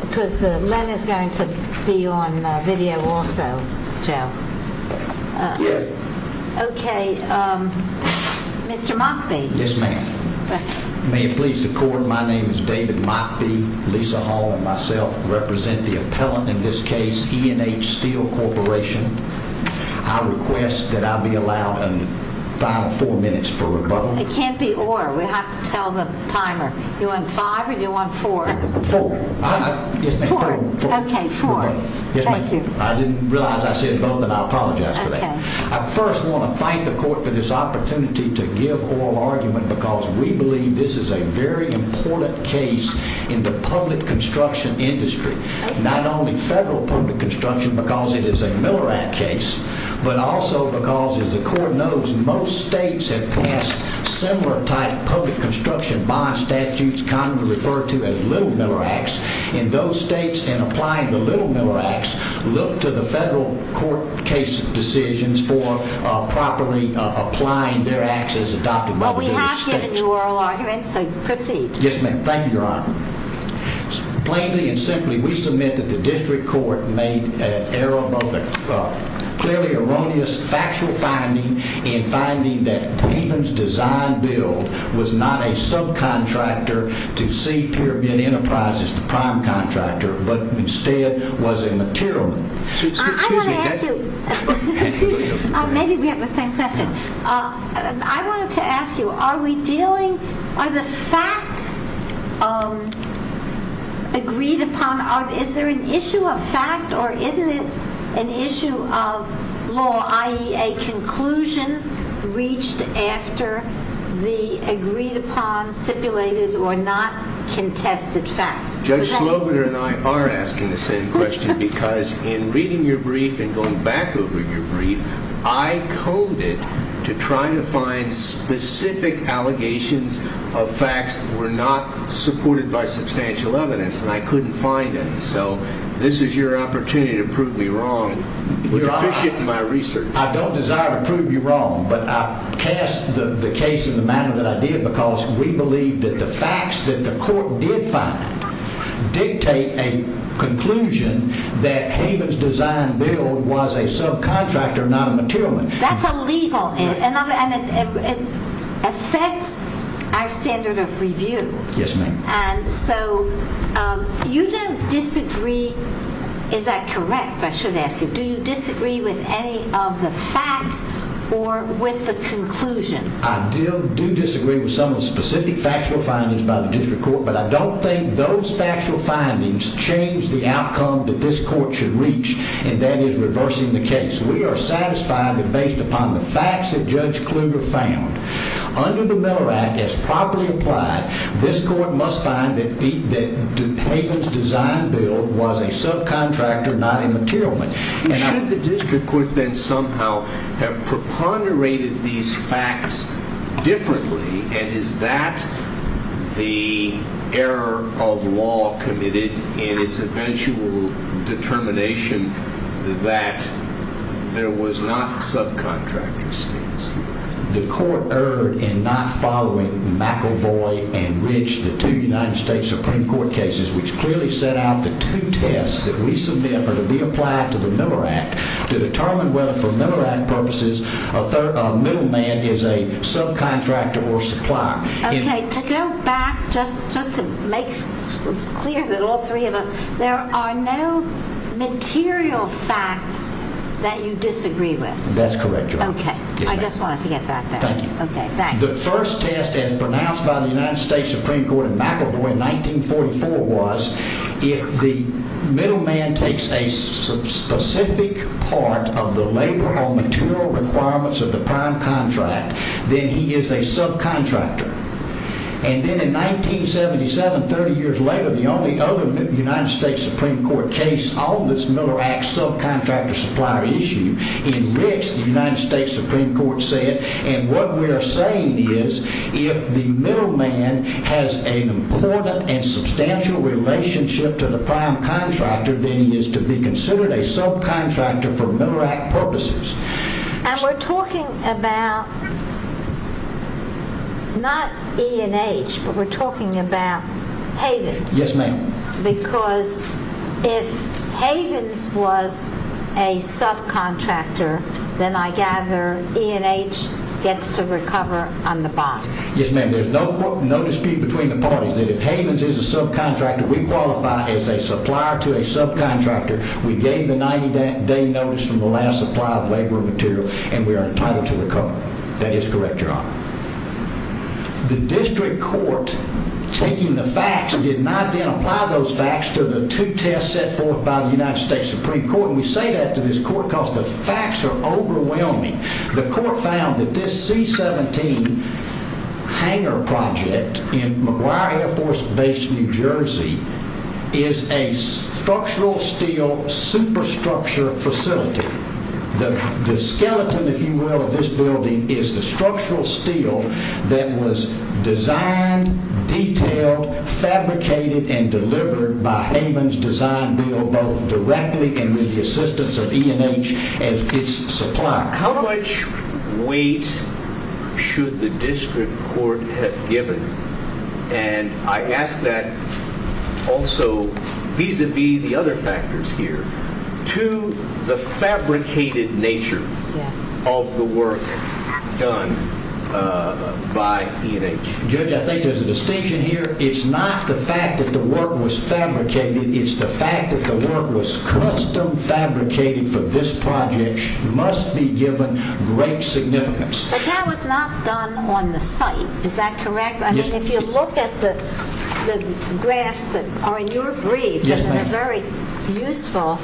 Because Len is going to be on video also, Joe. Okay, Mr. Mockbee. Yes, ma'am. May it please the court, my name is David Mockbee, Lisa Hall, and myself represent the appellant in this case, E&HSteel Corporation. I request that I be allowed a final four minutes for rebuttal. It can't be or, we have to tell the timer. You want five or you want four? Four. Okay, four. Thank you. I didn't realize I said both and I apologize for that. I first want to thank the court for this opportunity to give oral argument because we believe this is a very important case in the public construction industry, not only federal public construction because it is a Miller Act case, but also because as the court knows, most states have passed similar type public construction bond statutes, commonly referred to as Little Miller Acts, and those states in applying the Little Miller Acts look to the federal court case decisions for properly applying their acts as adopted. Well, we have given you oral argument, so proceed. Yes, ma'am. Thank you, Your Honor. Plainly and simply, we submit that the district court made an error, both a clearly erroneous factual finding and finding that David's design build was not a subcontractor to see Pyramid Enterprises, the prime contractor, but instead was a material. I want to ask you, maybe we have the same question. I wanted to ask you, are we dealing, are the facts agreed upon, is there an issue of fact or isn't it an issue of law, i.e. a conclusion reached after the agreed upon, stipulated or not contested facts? Judge Slobider and I are asking the same question because in reading your brief and going back over your brief, I coded to try to find specific allegations of facts that were not supported by substantial evidence and I couldn't find any, so this is your opportunity to prove me wrong. You're efficient in my research. I don't desire to prove you wrong, but I cast the case in the manner that I did because we believe that the facts that the court did find dictate a conclusion that Haven's design build was a subcontractor, not a material one. That's illegal and it affects our standard of review. Yes, ma'am. And so, you don't disagree, is that correct, I should ask you, do you disagree with any of the facts or with the conclusion? I do disagree with some of the specific factual findings by the district court, but I don't think those factual findings change the outcome that this court should reach and that is reversing the case. We are satisfied that based upon the facts that Judge Kluger found under the Miller Act that's properly applied, this court must find that Haven's design build was a subcontractor, not a material one. Should the district court then somehow have preponderated these facts differently and is that the error of law committed in its eventual determination that there was not subcontracting states? The court erred in not following McElvoy and Ridge, the two United States Supreme Court cases, which clearly set out the two tests that we submit are to be applied to the Miller Act to determine whether for Miller Act purposes a middleman is a subcontractor or supplier. Okay, to go back just to make clear that all three of us, there are no material facts that you disagree with. That's correct. Okay, I just wanted to get back there. Thank you. Okay, the first test as pronounced by the United States Supreme Court in McElvoy in 1944 was if the middleman takes a specific part of the labor or material requirements of the prime contract, then he is a subcontractor and then in 1977, 30 years later, the only other United States Supreme Court case on this Miller Act subcontractor supplier issue, in Ridge, the United States Supreme Court said and what we are saying is if the middleman has an important and substantial relationship to the prime contractor, then he is to be considered a subcontractor for Miller Act purposes. And we're talking about not E&H, but we're talking about Havens. Yes, ma'am. Because if Havens was a subcontractor, then I gather E&H gets to recover on the bond. Yes, ma'am. There's no dispute between the parties that if Havens is a subcontractor, we qualify as a supplier to a subcontractor. We gave the 90 day notice from the last supply of labor material and we are entitled to recover. That is correct, your honor. The district court taking the facts did not then apply those facts to the two tests set forth by the United States Supreme Court. We say that to this court because the facts are overwhelming. The court found that this C-17 hangar project in McGuire Air Force Base, New Jersey, is a structural steel superstructure facility. The skeleton, if you will, of this building is the structural steel that was designed, detailed, fabricated, and delivered by Havens design bill both directly and with the assistance of E&H as its supplier. How much weight should the also vis-a-vis the other factors here to the fabricated nature of the work done by E&H? Judge, I think there's a distinction here. It's not the fact that the work was fabricated. It's the fact that the work was custom fabricated for this project must be given great significance. But that was not done on the site, is that correct? I mean, if you look at the graphs that are in your brief that are very useful,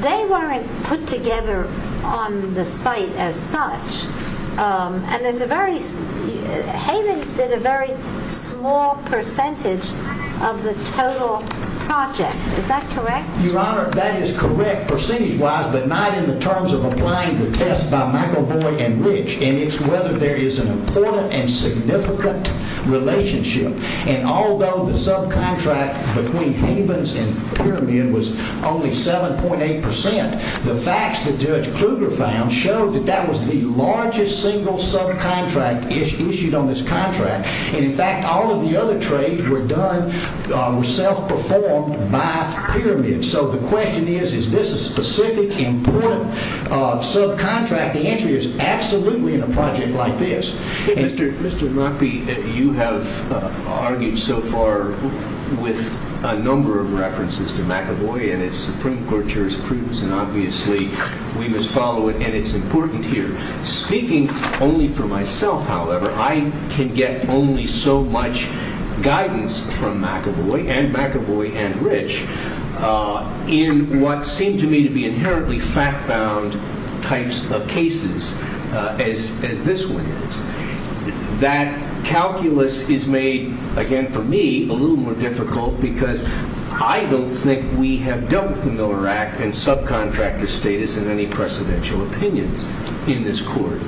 they weren't put together on the site as such. And there's a very, Havens did a very small percentage of the total project. Is that correct? Your honor, that is correct percentage wise, but not in the terms of applying the test by and it's whether there is an important and significant relationship. And although the subcontract between Havens and Pyramid was only 7.8 percent, the facts that Judge Kluger found showed that that was the largest single subcontract issued on this contract. And in fact, all of the other trades were done self-performed by Pyramid. So the question is, is this a specific important subcontract? The answer is absolutely in a project like this. Mr. Mockbee, you have argued so far with a number of references to McEvoy and its Supreme Court jurisprudence, and obviously we must follow it. And it's important here. Speaking only for myself, however, I can get only so much guidance from McEvoy and McEvoy and Rich in what seemed to me to be inherently fact-bound types of cases as this one is. That calculus is made, again for me, a little more difficult because I don't think we have dealt with the Miller Act and subcontractor status in any precedential opinions in this court.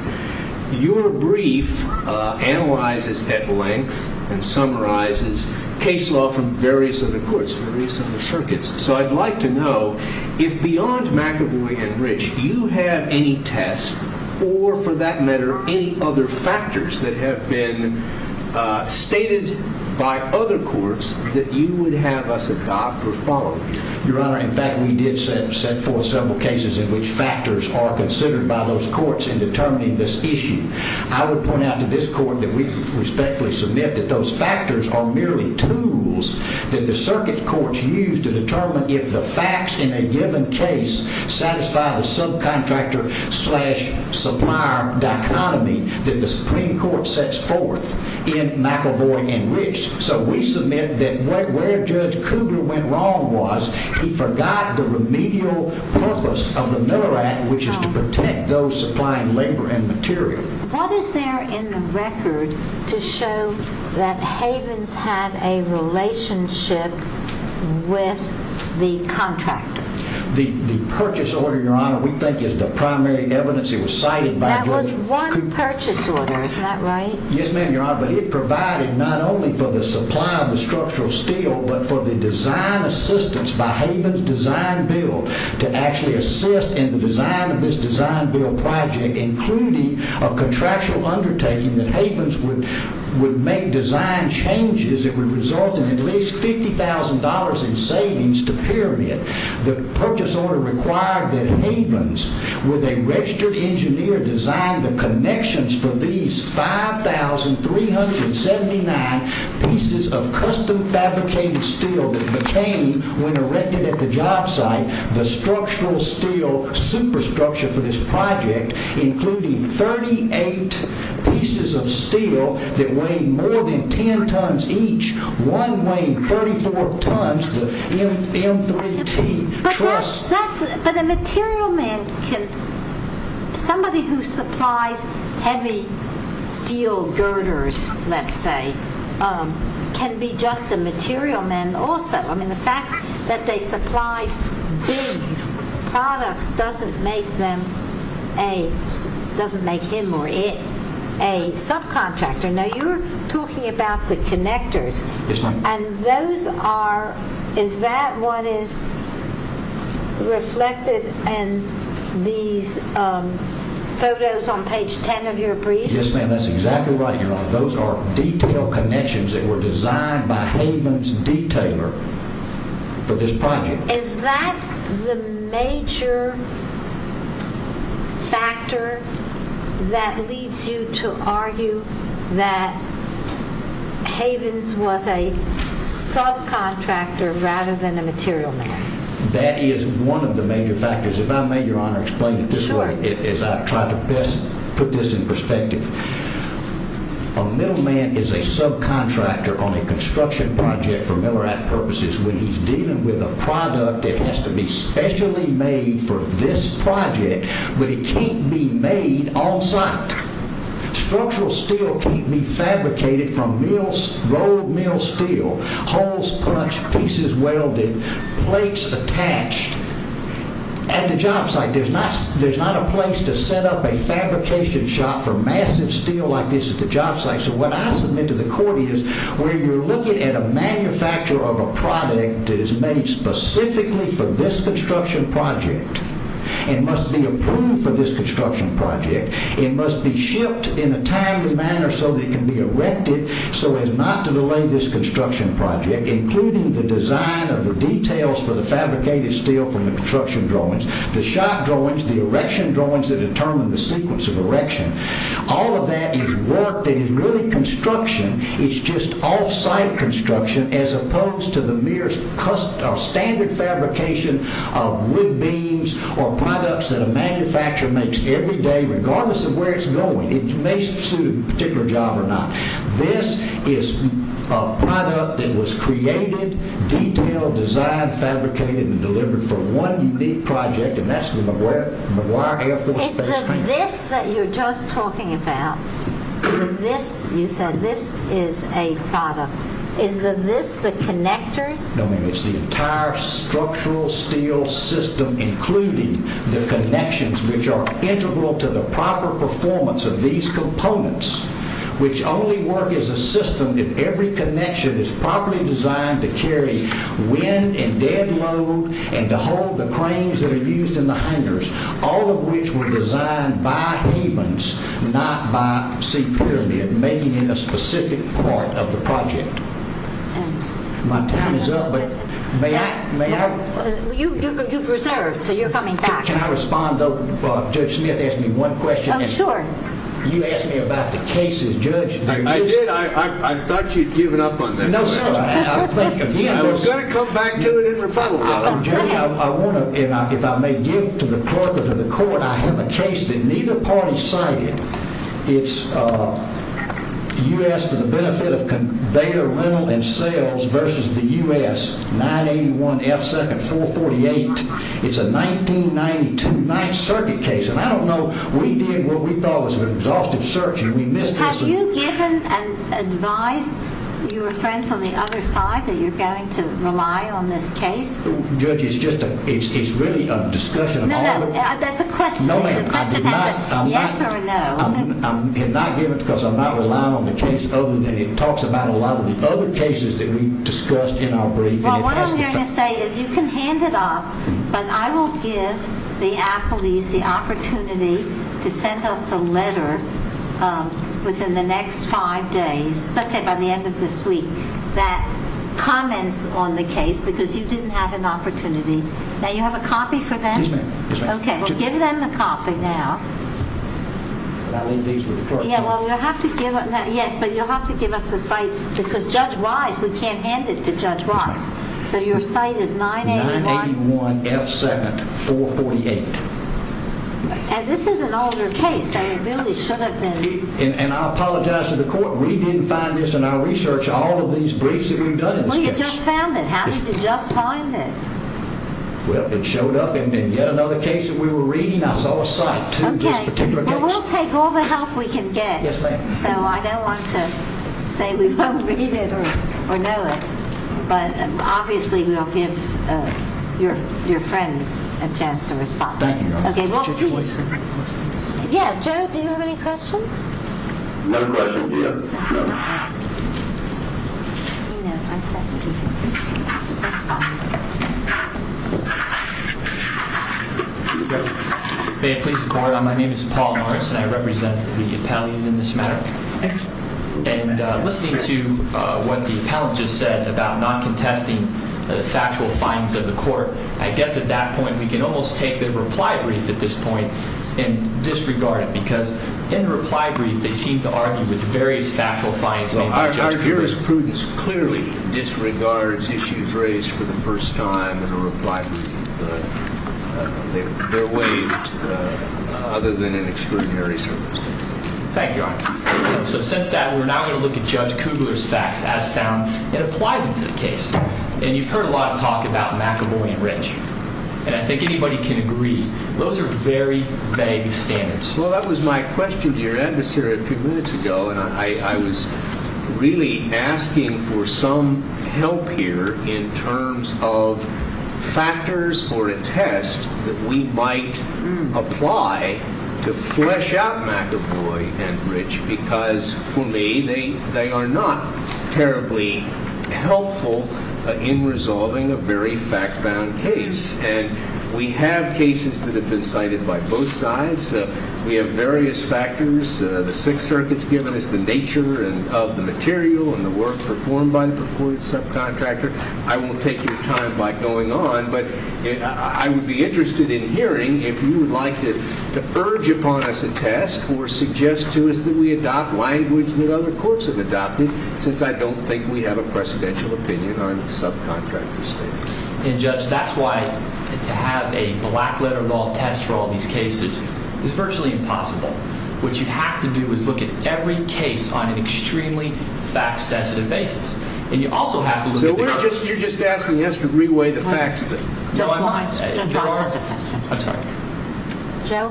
Your brief analyzes at length and summarizes case law from various other courts, various circuits. So I'd like to know if beyond McEvoy and Rich, you have any tests or for that matter, any other factors that have been stated by other courts that you would have us adopt or follow? Your Honor, in fact, we did send forth several cases in which factors are considered by those courts in determining this issue. I would point out to this court that we respectfully submit that those factors are merely tools that the circuit courts use to determine if the facts in a given case satisfy the subcontractor slash supplier dichotomy that the Supreme Court sets forth in McEvoy and Rich. So we submit that where Judge Cougar went wrong was he forgot the remedial purpose of the Miller Act, which is to protect those supplying labor and material. What is there in the record to show that Havens had a relationship with the contractor? The purchase order, Your Honor, we think is the primary evidence it was cited by Judge Cougar. That was one purchase order, isn't that right? Yes, ma'am, Your Honor, but it provided not only for the supply of the structural steel, but for the design assistance by Havens Design-Build to actually assist in the design of contractual undertaking that Havens would make design changes that would result in at least $50,000 in savings to Pyramid. The purchase order required that Havens, with a registered engineer, design the connections for these 5,379 pieces of custom-fabricated steel that became, when erected at the job site, the structural steel superstructure for this project, including 38 pieces of steel that weighed more than 10 tons each, one weighing 34 tons, the M3T. But a material man can, somebody who supplies heavy steel girders, let's say, can be just a material man also. I mean, the fact that they supply big products doesn't make them a, doesn't make him or it a subcontractor. Now, you're talking about the connectors. Yes, ma'am. And those are, is that what is reflected in these photos on page 10 of your brief? Yes, ma'am, that's exactly right, Your Honor. Those are detailed connections that were designed by Havens detailer for this project. Is that the major factor that leads you to argue that Havens was a subcontractor rather than a material man? That is one of the major factors. If I may, Your Honor, explain it this way. Sure. As I try to best put this in perspective, a middleman is a subcontractor on a construction project for Miller Act purposes. When he's dealing with a product, it has to be specially made for this project, but it can't be made on site. Structural steel can't be fabricated from road mill steel, holes punched, pieces welded, plates attached. At the job site, there's not a place to set up a fabrication shop for massive steel like this at the job site. What I submit to the court is, when you're looking at a manufacturer of a product that is made specifically for this construction project, it must be approved for this construction project. It must be shipped in a timely manner so that it can be erected so as not to delay this construction project, including the design of the details for the fabricated steel from the construction drawings, the shot drawings, the erection drawings that determine the sequence of erection. All of that is work that is really construction. It's just off-site construction, as opposed to the mere standard fabrication of wood beams or products that a manufacturer makes every day, regardless of where it's going. It may suit a particular job or not. This is a product that was created, detailed, designed, fabricated, and delivered for one unique project, and that's the McGuire Air Force Base. Is the this that you're just talking about, the this you said, this is a product, is the this the connectors? No, ma'am. It's the entire structural steel system, including the connections, which are integral to the proper performance of these components, which only work as a system if every connection is properly designed to carry wind and dead load and to hold the cranes that are used in the hangers, all of which were designed by Havens, not by Sea Pyramid, making it a specific part of the project. My time is up, but may I? You've reserved, so you're coming back. Can I respond, though? Judge Smith asked me one question. Oh, sure. You asked me about the cases, Judge. I did. I thought you'd given up on that. No, sir. I'll think again. We're going to come back to it in rebuttal, though. Judge, I want to, if I may give to the clerk or to the court, I have a case that neither party cited. It's U.S. to the benefit of conveyor rental and sales versus the U.S. 981F2nd448. It's a 1992 Ninth Circuit case, and I don't know. We did what we thought was an exhaustive search, and we missed this. Have you given and advised your friends on the other side that you're going to rely on this case? Judge, it's really a discussion. No, no. That's a question. The question has to be yes or no. I did not give it because I'm not relying on the case other than it talks about a lot of the other cases that we discussed in our briefing. Well, what I'm going to say is you can hand it off, but I will give the appellees the opportunity to send us a letter within the next five days, let's say by the end of this that comments on the case because you didn't have an opportunity. Now, you have a copy for them? Yes, ma'am. Okay. Well, give them the copy now. And I'll leave these with the clerk. Yeah, well, you'll have to give it. Yes, but you'll have to give us the site because Judge Wise, we can't hand it to Judge Wise. So your site is 981- 981F2nd448. And this is an older case, so it really should have been- And I apologize to the court. We didn't find this in our research, all of these briefs that we've done in this case. Well, you just found it. How did you just find it? Well, it showed up in yet another case that we were reading. I saw a site to this particular case. Okay. Well, we'll take all the help we can get. Yes, ma'am. So I don't want to say we won't read it or know it, but obviously we'll give your friends a chance to respond. Thank you. Okay, we'll see you. Yeah, Joe, do you have any questions? No questions, ma'am. May it please the court, my name is Paul Morris and I represent the appellees in this matter. And listening to what the appellant just said about not contesting the factual findings of the court, I guess at that point, we can almost take the reply brief at this point and disregard it because in the reply brief, they seem to argue with various factual findings. Well, our jurisprudence clearly disregards issues raised for the first time in a reply brief. They're waived other than in extraordinary circumstances. Thank you, Your Honor. So since that, we're now going to look at Judge Kugler's facts as found and apply them to the case. And you've heard a lot of talk about McEvoy and Rich. And I think anybody can agree, those are very vague standards. Well, that was my question to your adversary a few minutes ago. And I was really asking for some help here in terms of factors or a test that we might apply to flesh out McEvoy and Rich because for me, they are not terribly helpful in resolving a very fact-bound case. And we have cases that have been cited by both sides. We have various factors. The Sixth Circuit's given us the nature of the material and the work performed by the purported subcontractor. I won't take your time by going on. But I would be interested in hearing if you would like to urge upon us a test or suggest to us that we adopt language that other courts have adopted, since I don't think we have a precedential opinion on subcontractor statements. And Judge, that's why to have a black-letter-of-all test for all these cases is virtually impossible. What you have to do is look at every case on an extremely fact-sensitive basis. And you also have to look at the other. You're just asking us to reweigh the facts. Judge Wise has a question. I'm sorry. Joe?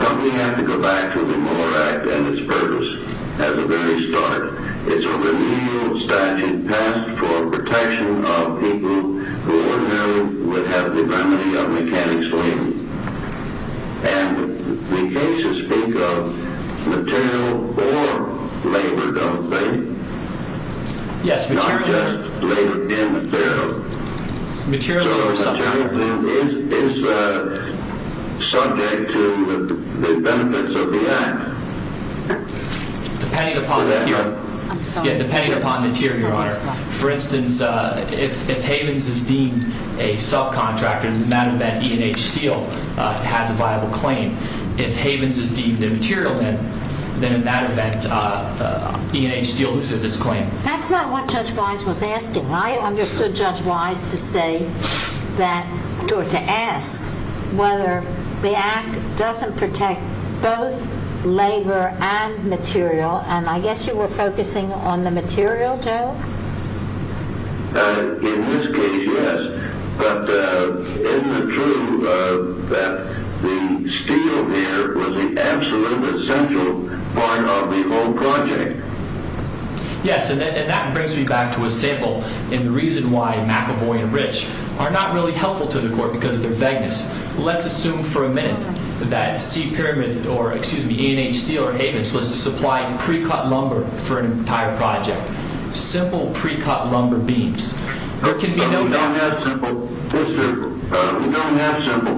Don't we have to go back to the Moore Act and its purpose? At the very start, it's a renewal statute passed for protection of people who ordinarily would have the remedy of mechanic's leave. And the cases speak of material or labor government pay. Yes, material. Not just labor and material. Material or subcontractor. So material is subject to the benefits of the act. Depending upon the tier, Your Honor. For instance, if Havens is deemed a subcontractor, in that event, E&H Steele has a viable claim. If Havens is deemed immaterial, then in that event, E&H Steele loses its claim. That's not what Judge Wise was asking. I understood Judge Wise to say that, or to ask, whether the act doesn't protect both labor and material. And I guess you were focusing on the material, Joe? In this case, yes. But isn't it true that the steel here was the absolute essential part of the whole project? Yes, and that brings me back to a sample in the reason why McEvoy and Rich are not really helpful to the Court because of their vagueness. Let's assume for a minute that C. Pyramid or, excuse me, E&H Steele or Havens was to supply pre-cut lumber for an entire project. Simple pre-cut lumber beams. But we don't have simple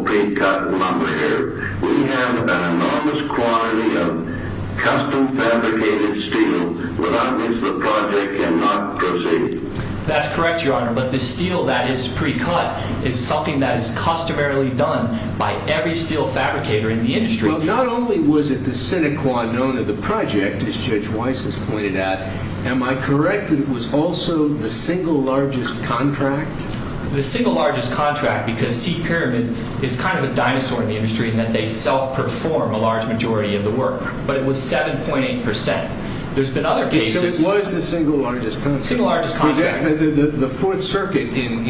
pre-cut lumber here. We have an enormous quantity of custom-fabricated steel. But that means the project cannot proceed. That's correct, Your Honor. But the steel that is pre-cut is something that is customarily done by every steel fabricator in the industry. Well, not only was it the sine qua non of the project, as Judge Wise has pointed out, am I correct that it was also the single largest contract? The single largest contract because C. Pyramid is kind of a dinosaur in the industry in that they self-perform a large majority of the work. But it was 7.8 percent. There's been other cases. So it was the single largest contract? Single largest contract. The Fourth Circuit, in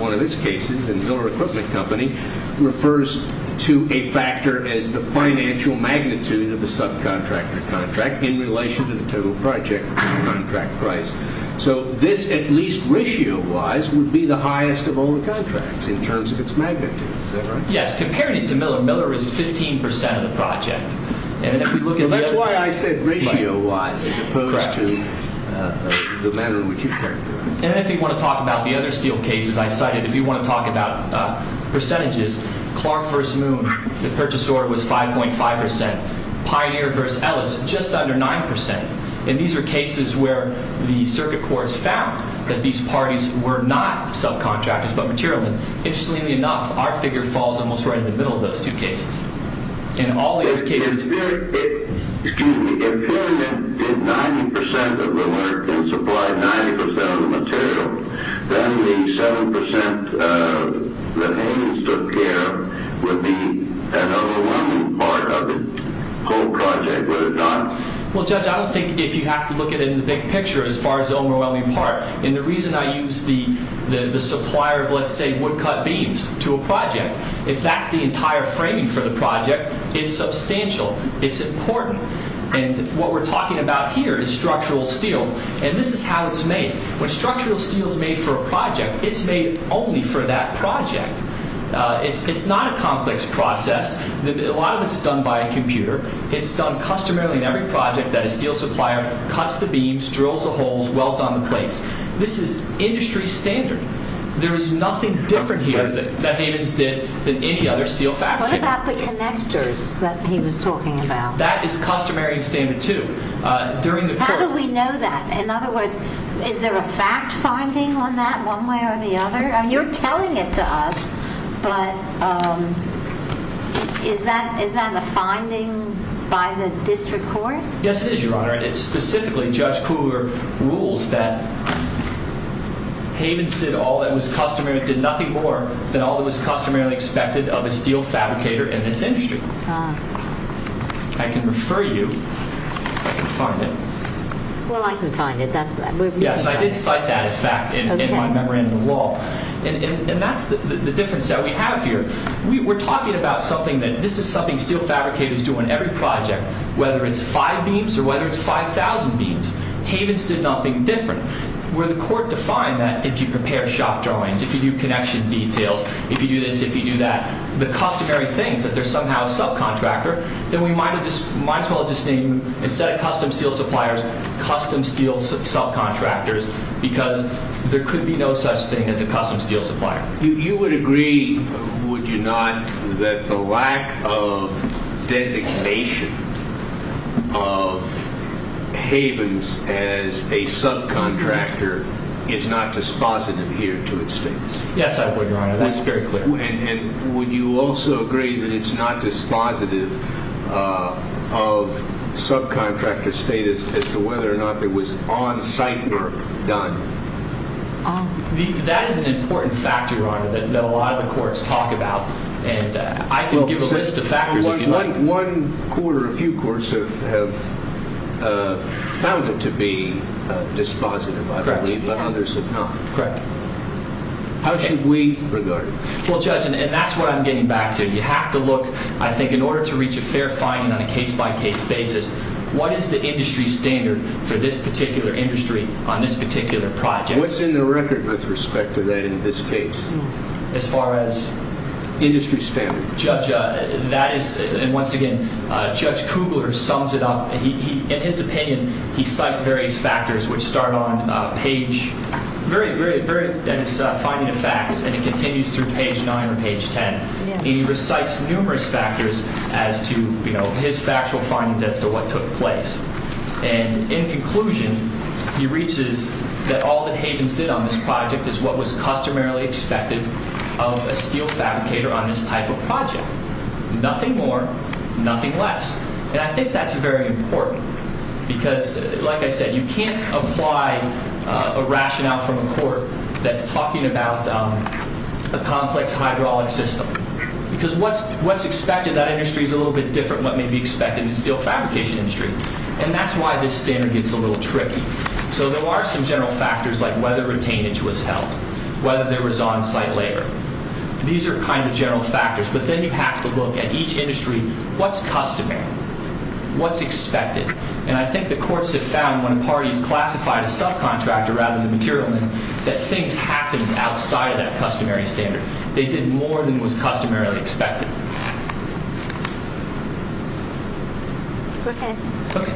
one of its cases, in Miller Equipment Company, refers to a factor as the financial magnitude of the subcontractor contract in relation to the total project contract price. So this, at least ratio-wise, would be the highest of all the contracts in terms of its magnitude. Is that right? Yes. Comparing it to Miller, Miller is 15 percent of the project. That's why I said ratio-wise as opposed to the manner in which you characterize it. And if you want to talk about the other steel cases I cited, if you want to talk about percentages, Clark v. Moon, the purchase order was 5.5 percent. Pioneer v. Ellis, just under 9 percent. And these are cases where the circuit courts found that these parties were not subcontractors but materialists. Interestingly enough, our figure falls almost right in the middle of those two cases. In all the other cases... If Pyramid did 90 percent of the work and supplied 90 percent of the material, then the 7 percent that Haynes took care of would be an overwhelming part of the whole project, would it not? Well, Judge, I don't think if you have to look at it in the big picture as far as the overwhelming part. And the reason I use the supplier of, let's say, woodcut beams to a project, if that's the entire framing for the project, is substantial. It's important. And what we're talking about here is structural steel. And this is how it's made. When structural steel is made for a project, it's made only for that project. It's not a complex process. A lot of it's done by a computer. It's done customarily in every project that a steel supplier cuts the beams, drills the holes, welds on the plates. This is industry standard. There is nothing different here that Haynes did than any other steel factory. What about the connectors that he was talking about? That is customary and standard, too. How do we know that? In other words, is there a fact finding on that one way or the other? You're telling it to us. But is that a finding by the district court? Yes, it is, Your Honor. And specifically, Judge Kugler rules that Haynes did nothing more than all that was customarily expected of a steel fabricator in this industry. I can refer you if I can find it. Well, I can find it. Yes, I did cite that in fact in my memorandum of law. That's the difference that we have here. We're talking about something that this is something steel fabricators do on every project, whether it's five beams or whether it's 5,000 beams. Haynes did nothing different. Where the court defined that if you prepare shop drawings, if you do connection details, if you do this, if you do that, the customary things that they're somehow a subcontractor, then we might as well just name, instead of custom steel suppliers, custom steel subcontractors because there could be no such thing as a custom steel supplier. You would agree, would you not, that the lack of designation of Haynes as a subcontractor is not dispositive here to its state? Yes, I would, Your Honor. That's very clear. Would you also agree that it's not dispositive of subcontractor status as to whether or not there was on-site work done? That is an important factor, Your Honor, that a lot of the courts talk about. I can give a list of factors if you'd like. One court or a few courts have found it to be dispositive, I believe, but others have not. Correct. How should we regard it? Well, Judge, and that's what I'm getting back to. You have to look, I think, in order to reach a fair finding on a case-by-case basis, what is the industry standard for this particular industry on this particular project? What's in the record with respect to that in this case? As far as? Industry standard. Judge, that is, and once again, Judge Kugler sums it up. In his opinion, he cites various factors which start on page, very, very, very, finding of facts, and it continues through page 9 or page 10. He recites numerous factors as to his factual findings as to what took place. And in conclusion, he reaches that all that Havens did on this project is what was customarily expected of a steel fabricator on this type of project. Nothing more, nothing less. And I think that's very important because, like I said, you can't apply a rationale from a court that's talking about a complex hydraulic system because what's expected, that industry is a little bit different than what may be expected in the steel fabrication industry. And that's why this standard gets a little tricky. So there are some general factors like whether retainage was held, whether there was on-site labor. These are kind of general factors. But then you have to look at each industry. What's customary? What's expected? And I think the courts have found when parties classified a subcontractor rather than the materialman, that things happened outside of that customary standard. They did more than was customarily expected. Okay. Okay.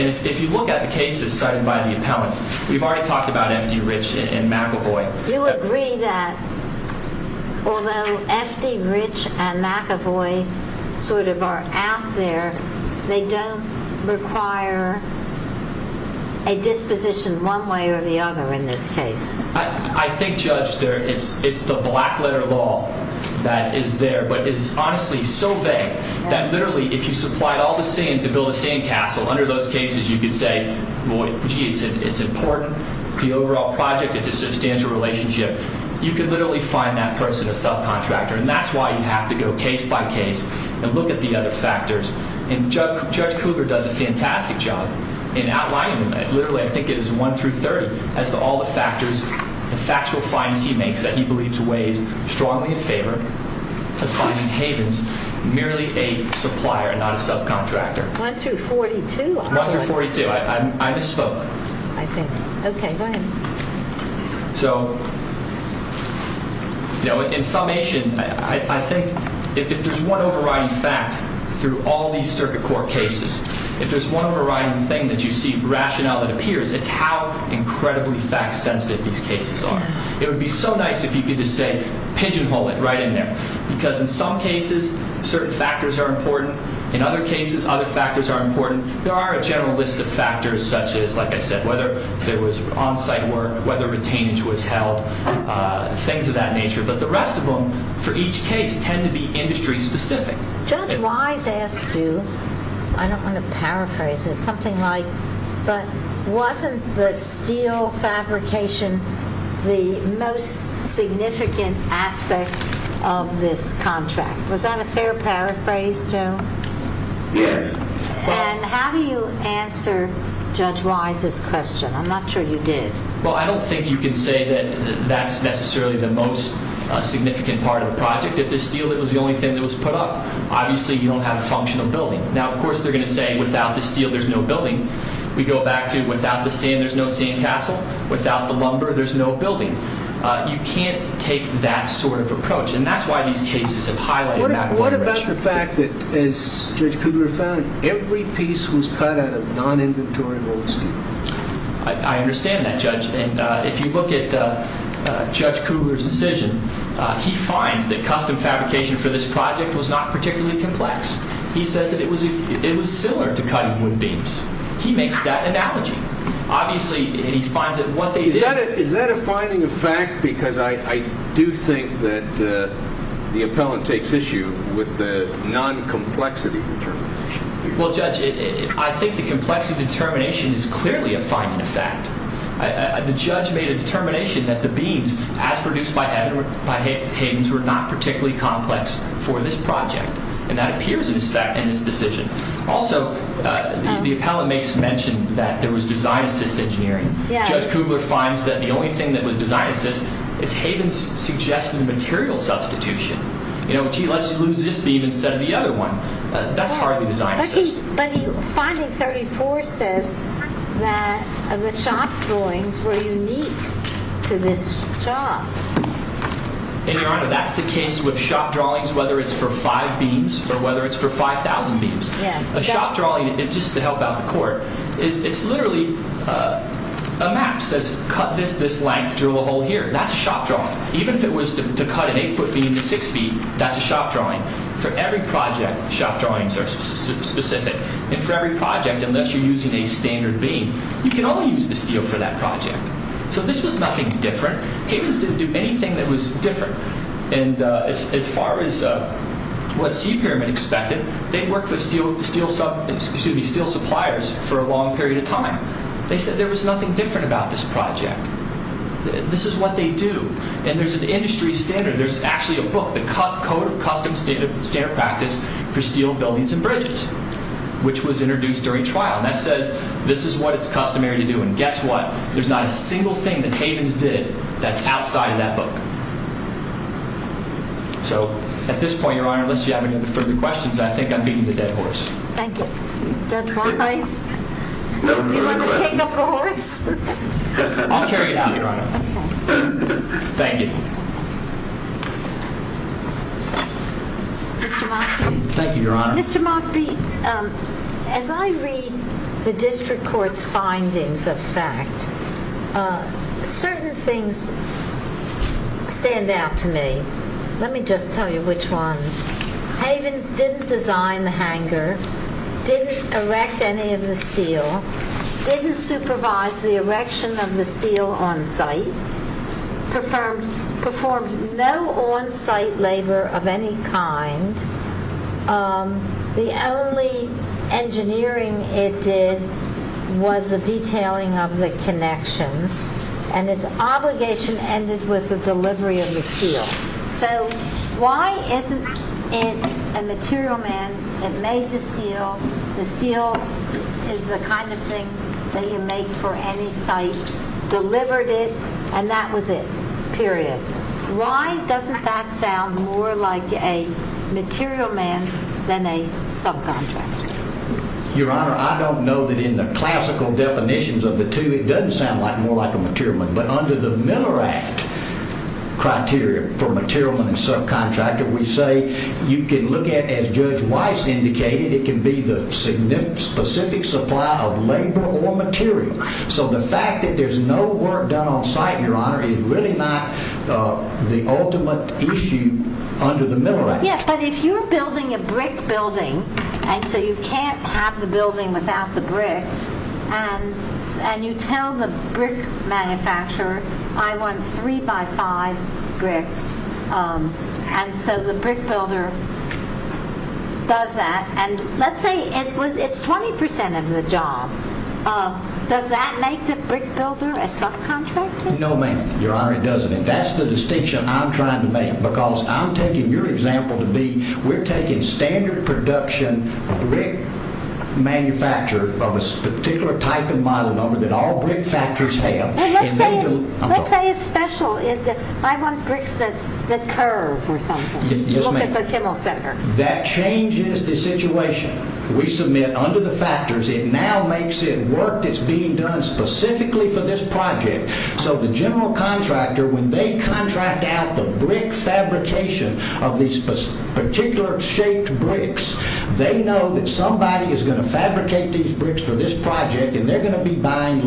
And if you look at the cases cited by the appellant, we've already talked about F.D. Rich and McEvoy. You agree that although F.D. Rich and McEvoy sort of are out there, they don't require a disposition one way or the other in this case. I think, Judge, it's the black letter law that is there. But it's honestly so vague that literally if you supplied all the same to build the same castle, under those cases you could say, boy, gee, it's important. The overall project is a substantial relationship. You could literally find that person a subcontractor. And that's why you have to go case by case and look at the other factors. And Judge Cougar does a fantastic job in outlining them. Literally, I think it is one through 30 as to all the factors, the factual findings he makes that he believes weighs strongly in favor of finding havens merely a supplier, not a subcontractor. One through 42. One through 42. I misspoke. I think. Okay, go ahead. So, you know, in summation, I think if there's one overriding fact through all these circuit court cases, if there's one overriding thing that you see rationale that appears, it's how incredibly fact sensitive these cases are. It would be so nice if you could just say pigeonhole it right in there. Because in some cases, certain factors are important. In other cases, other factors are important. There are a general list of factors, such as, like I said, whether there was on-site work, whether retainage was held, things of that nature. But the rest of them, for each case, tend to be industry specific. Judge Wise asked you, I don't want to paraphrase it, something like, but wasn't the steel fabrication the most significant aspect of this contract? Was that a fair paraphrase, Joe? And how do you answer Judge Wise's question? I'm not sure you did. Well, I don't think you can say that that's necessarily the most significant part of the project. If the steel was the only thing that was put up, obviously, you don't have a functional building. Now, of course, they're going to say without the steel, there's no building. We go back to without the sand, there's no sand castle. Without the lumber, there's no building. You can't take that sort of approach. And that's why these cases have highlighted that. What about the fact that, as Judge Cougar found, every piece was cut out of non-inventory old steel? I understand that, Judge. And if you look at Judge Cougar's decision, he finds that custom fabrication for this project was not particularly complex. He says that it was similar to cutting wood beams. He makes that analogy. Obviously, and he finds that what they did- Well, Judge, I think the complexity determination is clearly a finding of fact. The judge made a determination that the beams, as produced by Hayden's, were not particularly complex for this project. And that appears in his decision. Also, the appellate makes mention that there was design-assist engineering. Judge Cougar finds that the only thing that was design-assist is Hayden's suggested material substitution. You know, gee, let's use this beam instead of the other one. That's hardly design-assist. But finding 34 says that the shop drawings were unique to this job. And, Your Honor, that's the case with shop drawings, whether it's for five beams or whether it's for 5,000 beams. A shop drawing, just to help out the Court, it's literally a map that says, cut this this length, drill a hole here. That's a shop drawing. Even if it was to cut an eight-foot beam to six feet, that's a shop drawing. For every project, shop drawings are specific. And for every project, unless you're using a standard beam, you can only use the steel for that project. So this was nothing different. Hayden's didn't do anything that was different. And as far as what Sea Pyramid expected, they'd worked with steel suppliers for a long period of time. They said there was nothing different about this project. This is what they do. And there's an industry standard. There's actually a book, The Code of Custom Standard Practice for Steel Buildings and Bridges, which was introduced during trial. And that says this is what it's customary to do. And guess what? There's not a single thing that Hayden's did that's outside of that book. So at this point, Your Honor, unless you have any further questions, I think I'm beating the dead horse. Thank you. Judge Barnes, do you want to take up the horse? I'll carry it out, Your Honor. Thank you. Mr. Moffitt. Thank you, Your Honor. Mr. Moffitt, as I read the district court's findings of fact, certain things stand out to me. Let me just tell you which ones. Hayden's didn't design the hangar, didn't erect any of the steel, didn't supervise the steel, performed no on-site labor of any kind. The only engineering it did was the detailing of the connections. And its obligation ended with the delivery of the steel. So why isn't it a material man that made the steel? The steel is the kind of thing that you make for any site, delivered it, and that was it, period. Why doesn't that sound more like a material man than a subcontractor? Your Honor, I don't know that in the classical definitions of the two, it doesn't sound more like a material man. But under the Miller Act criteria for material man and subcontractor, we say you can look at, as Judge Weiss indicated, it can be the specific supply of labor or material. So the fact that there's no work done on site, Your Honor, is really not the ultimate issue under the Miller Act. Yeah, but if you're building a brick building, and so you can't have the building without the brick, and you tell the brick manufacturer, I want three by five brick, and so the brick builder does that. Let's say it's 20% of the job, does that make the brick builder a subcontractor? No, ma'am, Your Honor, it doesn't. And that's the distinction I'm trying to make, because I'm taking your example to be, we're taking standard production brick manufacturer of a particular type and model number that all brick factories have. Let's say it's special, I want bricks that curve or something, look at the Kimmel Center. That changes the situation. We submit under the factors, it now makes it work that's being done specifically for this project. So the general contractor, when they contract out the brick fabrication of these particular shaped bricks, they know that somebody is going to fabricate these bricks for this project, and they're going to be buying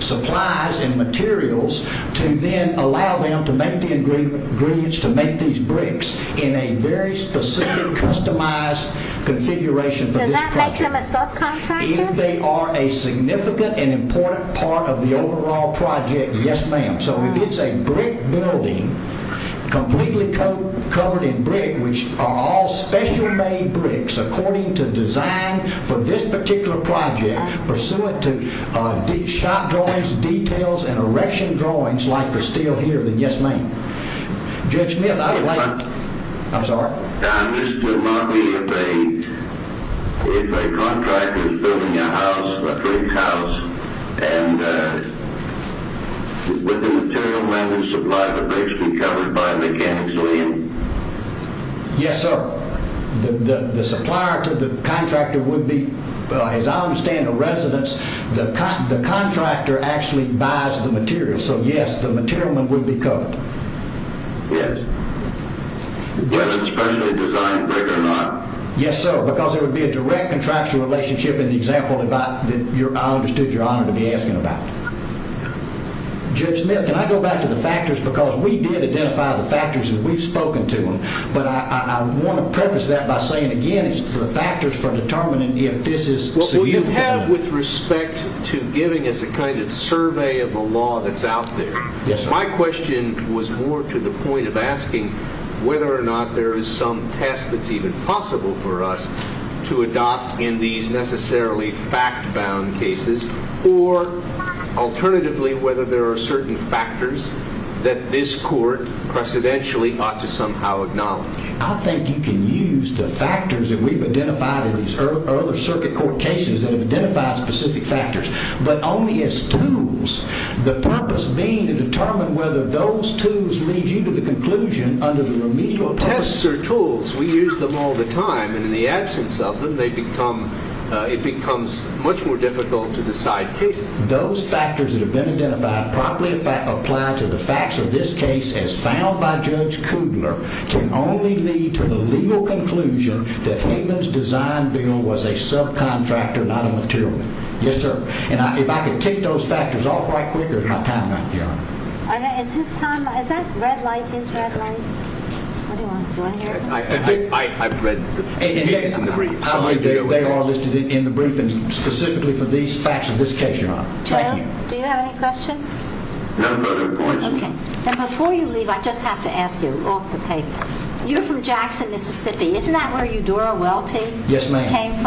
supplies and materials to then allow them to make the ingredients to make these bricks in a very specific, customized configuration for this project. Does that make them a subcontractor? If they are a significant and important part of the overall project, yes, ma'am. So if it's a brick building, completely covered in brick, which are all special made bricks according to design for this particular project, pursuant to shot drawings, details, and erection drawings like the steel here, then yes, ma'am. Judge Smith, I would like... I'm sorry? I'm just wondering if a contractor is building a house, a brick house, and with the material man who supplies the bricks be covered by mechanics, will he? Yes, sir. The supplier to the contractor would be, as I understand the residence, the contractor actually buys the materials. So yes, the material man would be covered. Yes. Yes, sir. Because there would be a direct contractual relationship in the example that I understood your honor to be asking about. Judge Smith, can I go back to the factors? Because we did identify the factors and we've spoken to them. But I want to preface that by saying again, it's the factors for determining if this is... What you have with respect to giving us a kind of survey of the law that's out there. Yes, sir. My question was more to the point of asking whether or not there is some test that's even possible for us to adopt in these necessarily fact-bound cases, or alternatively, whether there are certain factors that this court precedentially ought to somehow acknowledge. I think you can use the factors that we've identified in these earlier circuit court cases that have identified specific factors, but only as tools. The purpose being to determine whether those tools lead you to the conclusion under the remedial... Tests are tools. We use them all the time. And in the absence of them, it becomes much more difficult to decide cases. Those factors that have been identified properly apply to the facts of this case, as found by Judge Kudler, can only lead to the legal conclusion that Haven's design bill was a subcontractor, not a material man. Yes, sir. And if I could take those factors off right quick, or is my time up, Your Honor? Is his time... Is that red light? His red light? What do you want? Do you want to hear it? I've read the brief. They are listed in the brief, and specifically for these facts of this case, Your Honor. Thank you. Do you have any questions? No, no, no. Okay. And before you leave, I just have to ask you, off the tape. You're from Jackson, Mississippi. Isn't that where Eudora Welty came from? Yes, ma'am.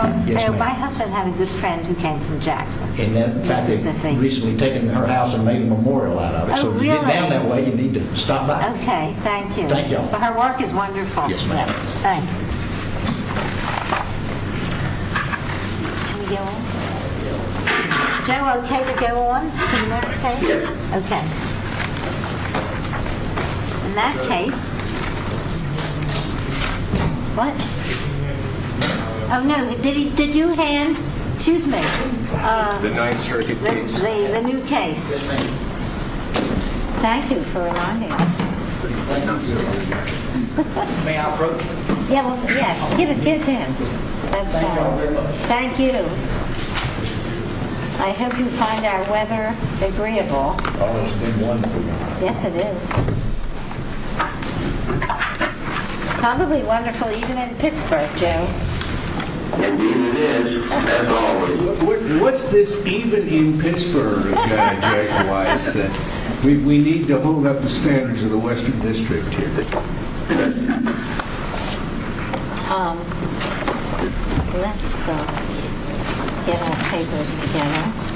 My husband had a good friend who came from Jackson, Mississippi. In fact, they've recently taken her house and made a memorial out of it. Oh, really? So to get down that way, you need to stop by. Okay. Thank you. Thank y'all. Her work is wonderful. Yes, ma'am. Thanks. Can we go on? Joe, okay to go on to the next case? Yeah. Okay. In that case... What? Oh, no. Did you hand... Excuse me. The Ninth Circuit case. The new case. Thank you for reminding us. May I approach? Yeah, give it to him. Thank you. I hope you find our weather agreeable. Yes, it is. Probably wonderful even in Pittsburgh, Joe. It is. What's this even in Pittsburgh? We need to hold up the standards of the Western District here. Let's get our papers together.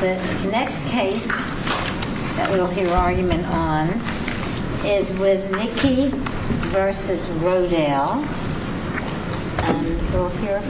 The next case that we'll hear argument on is with Nikki versus Rodale. And so here...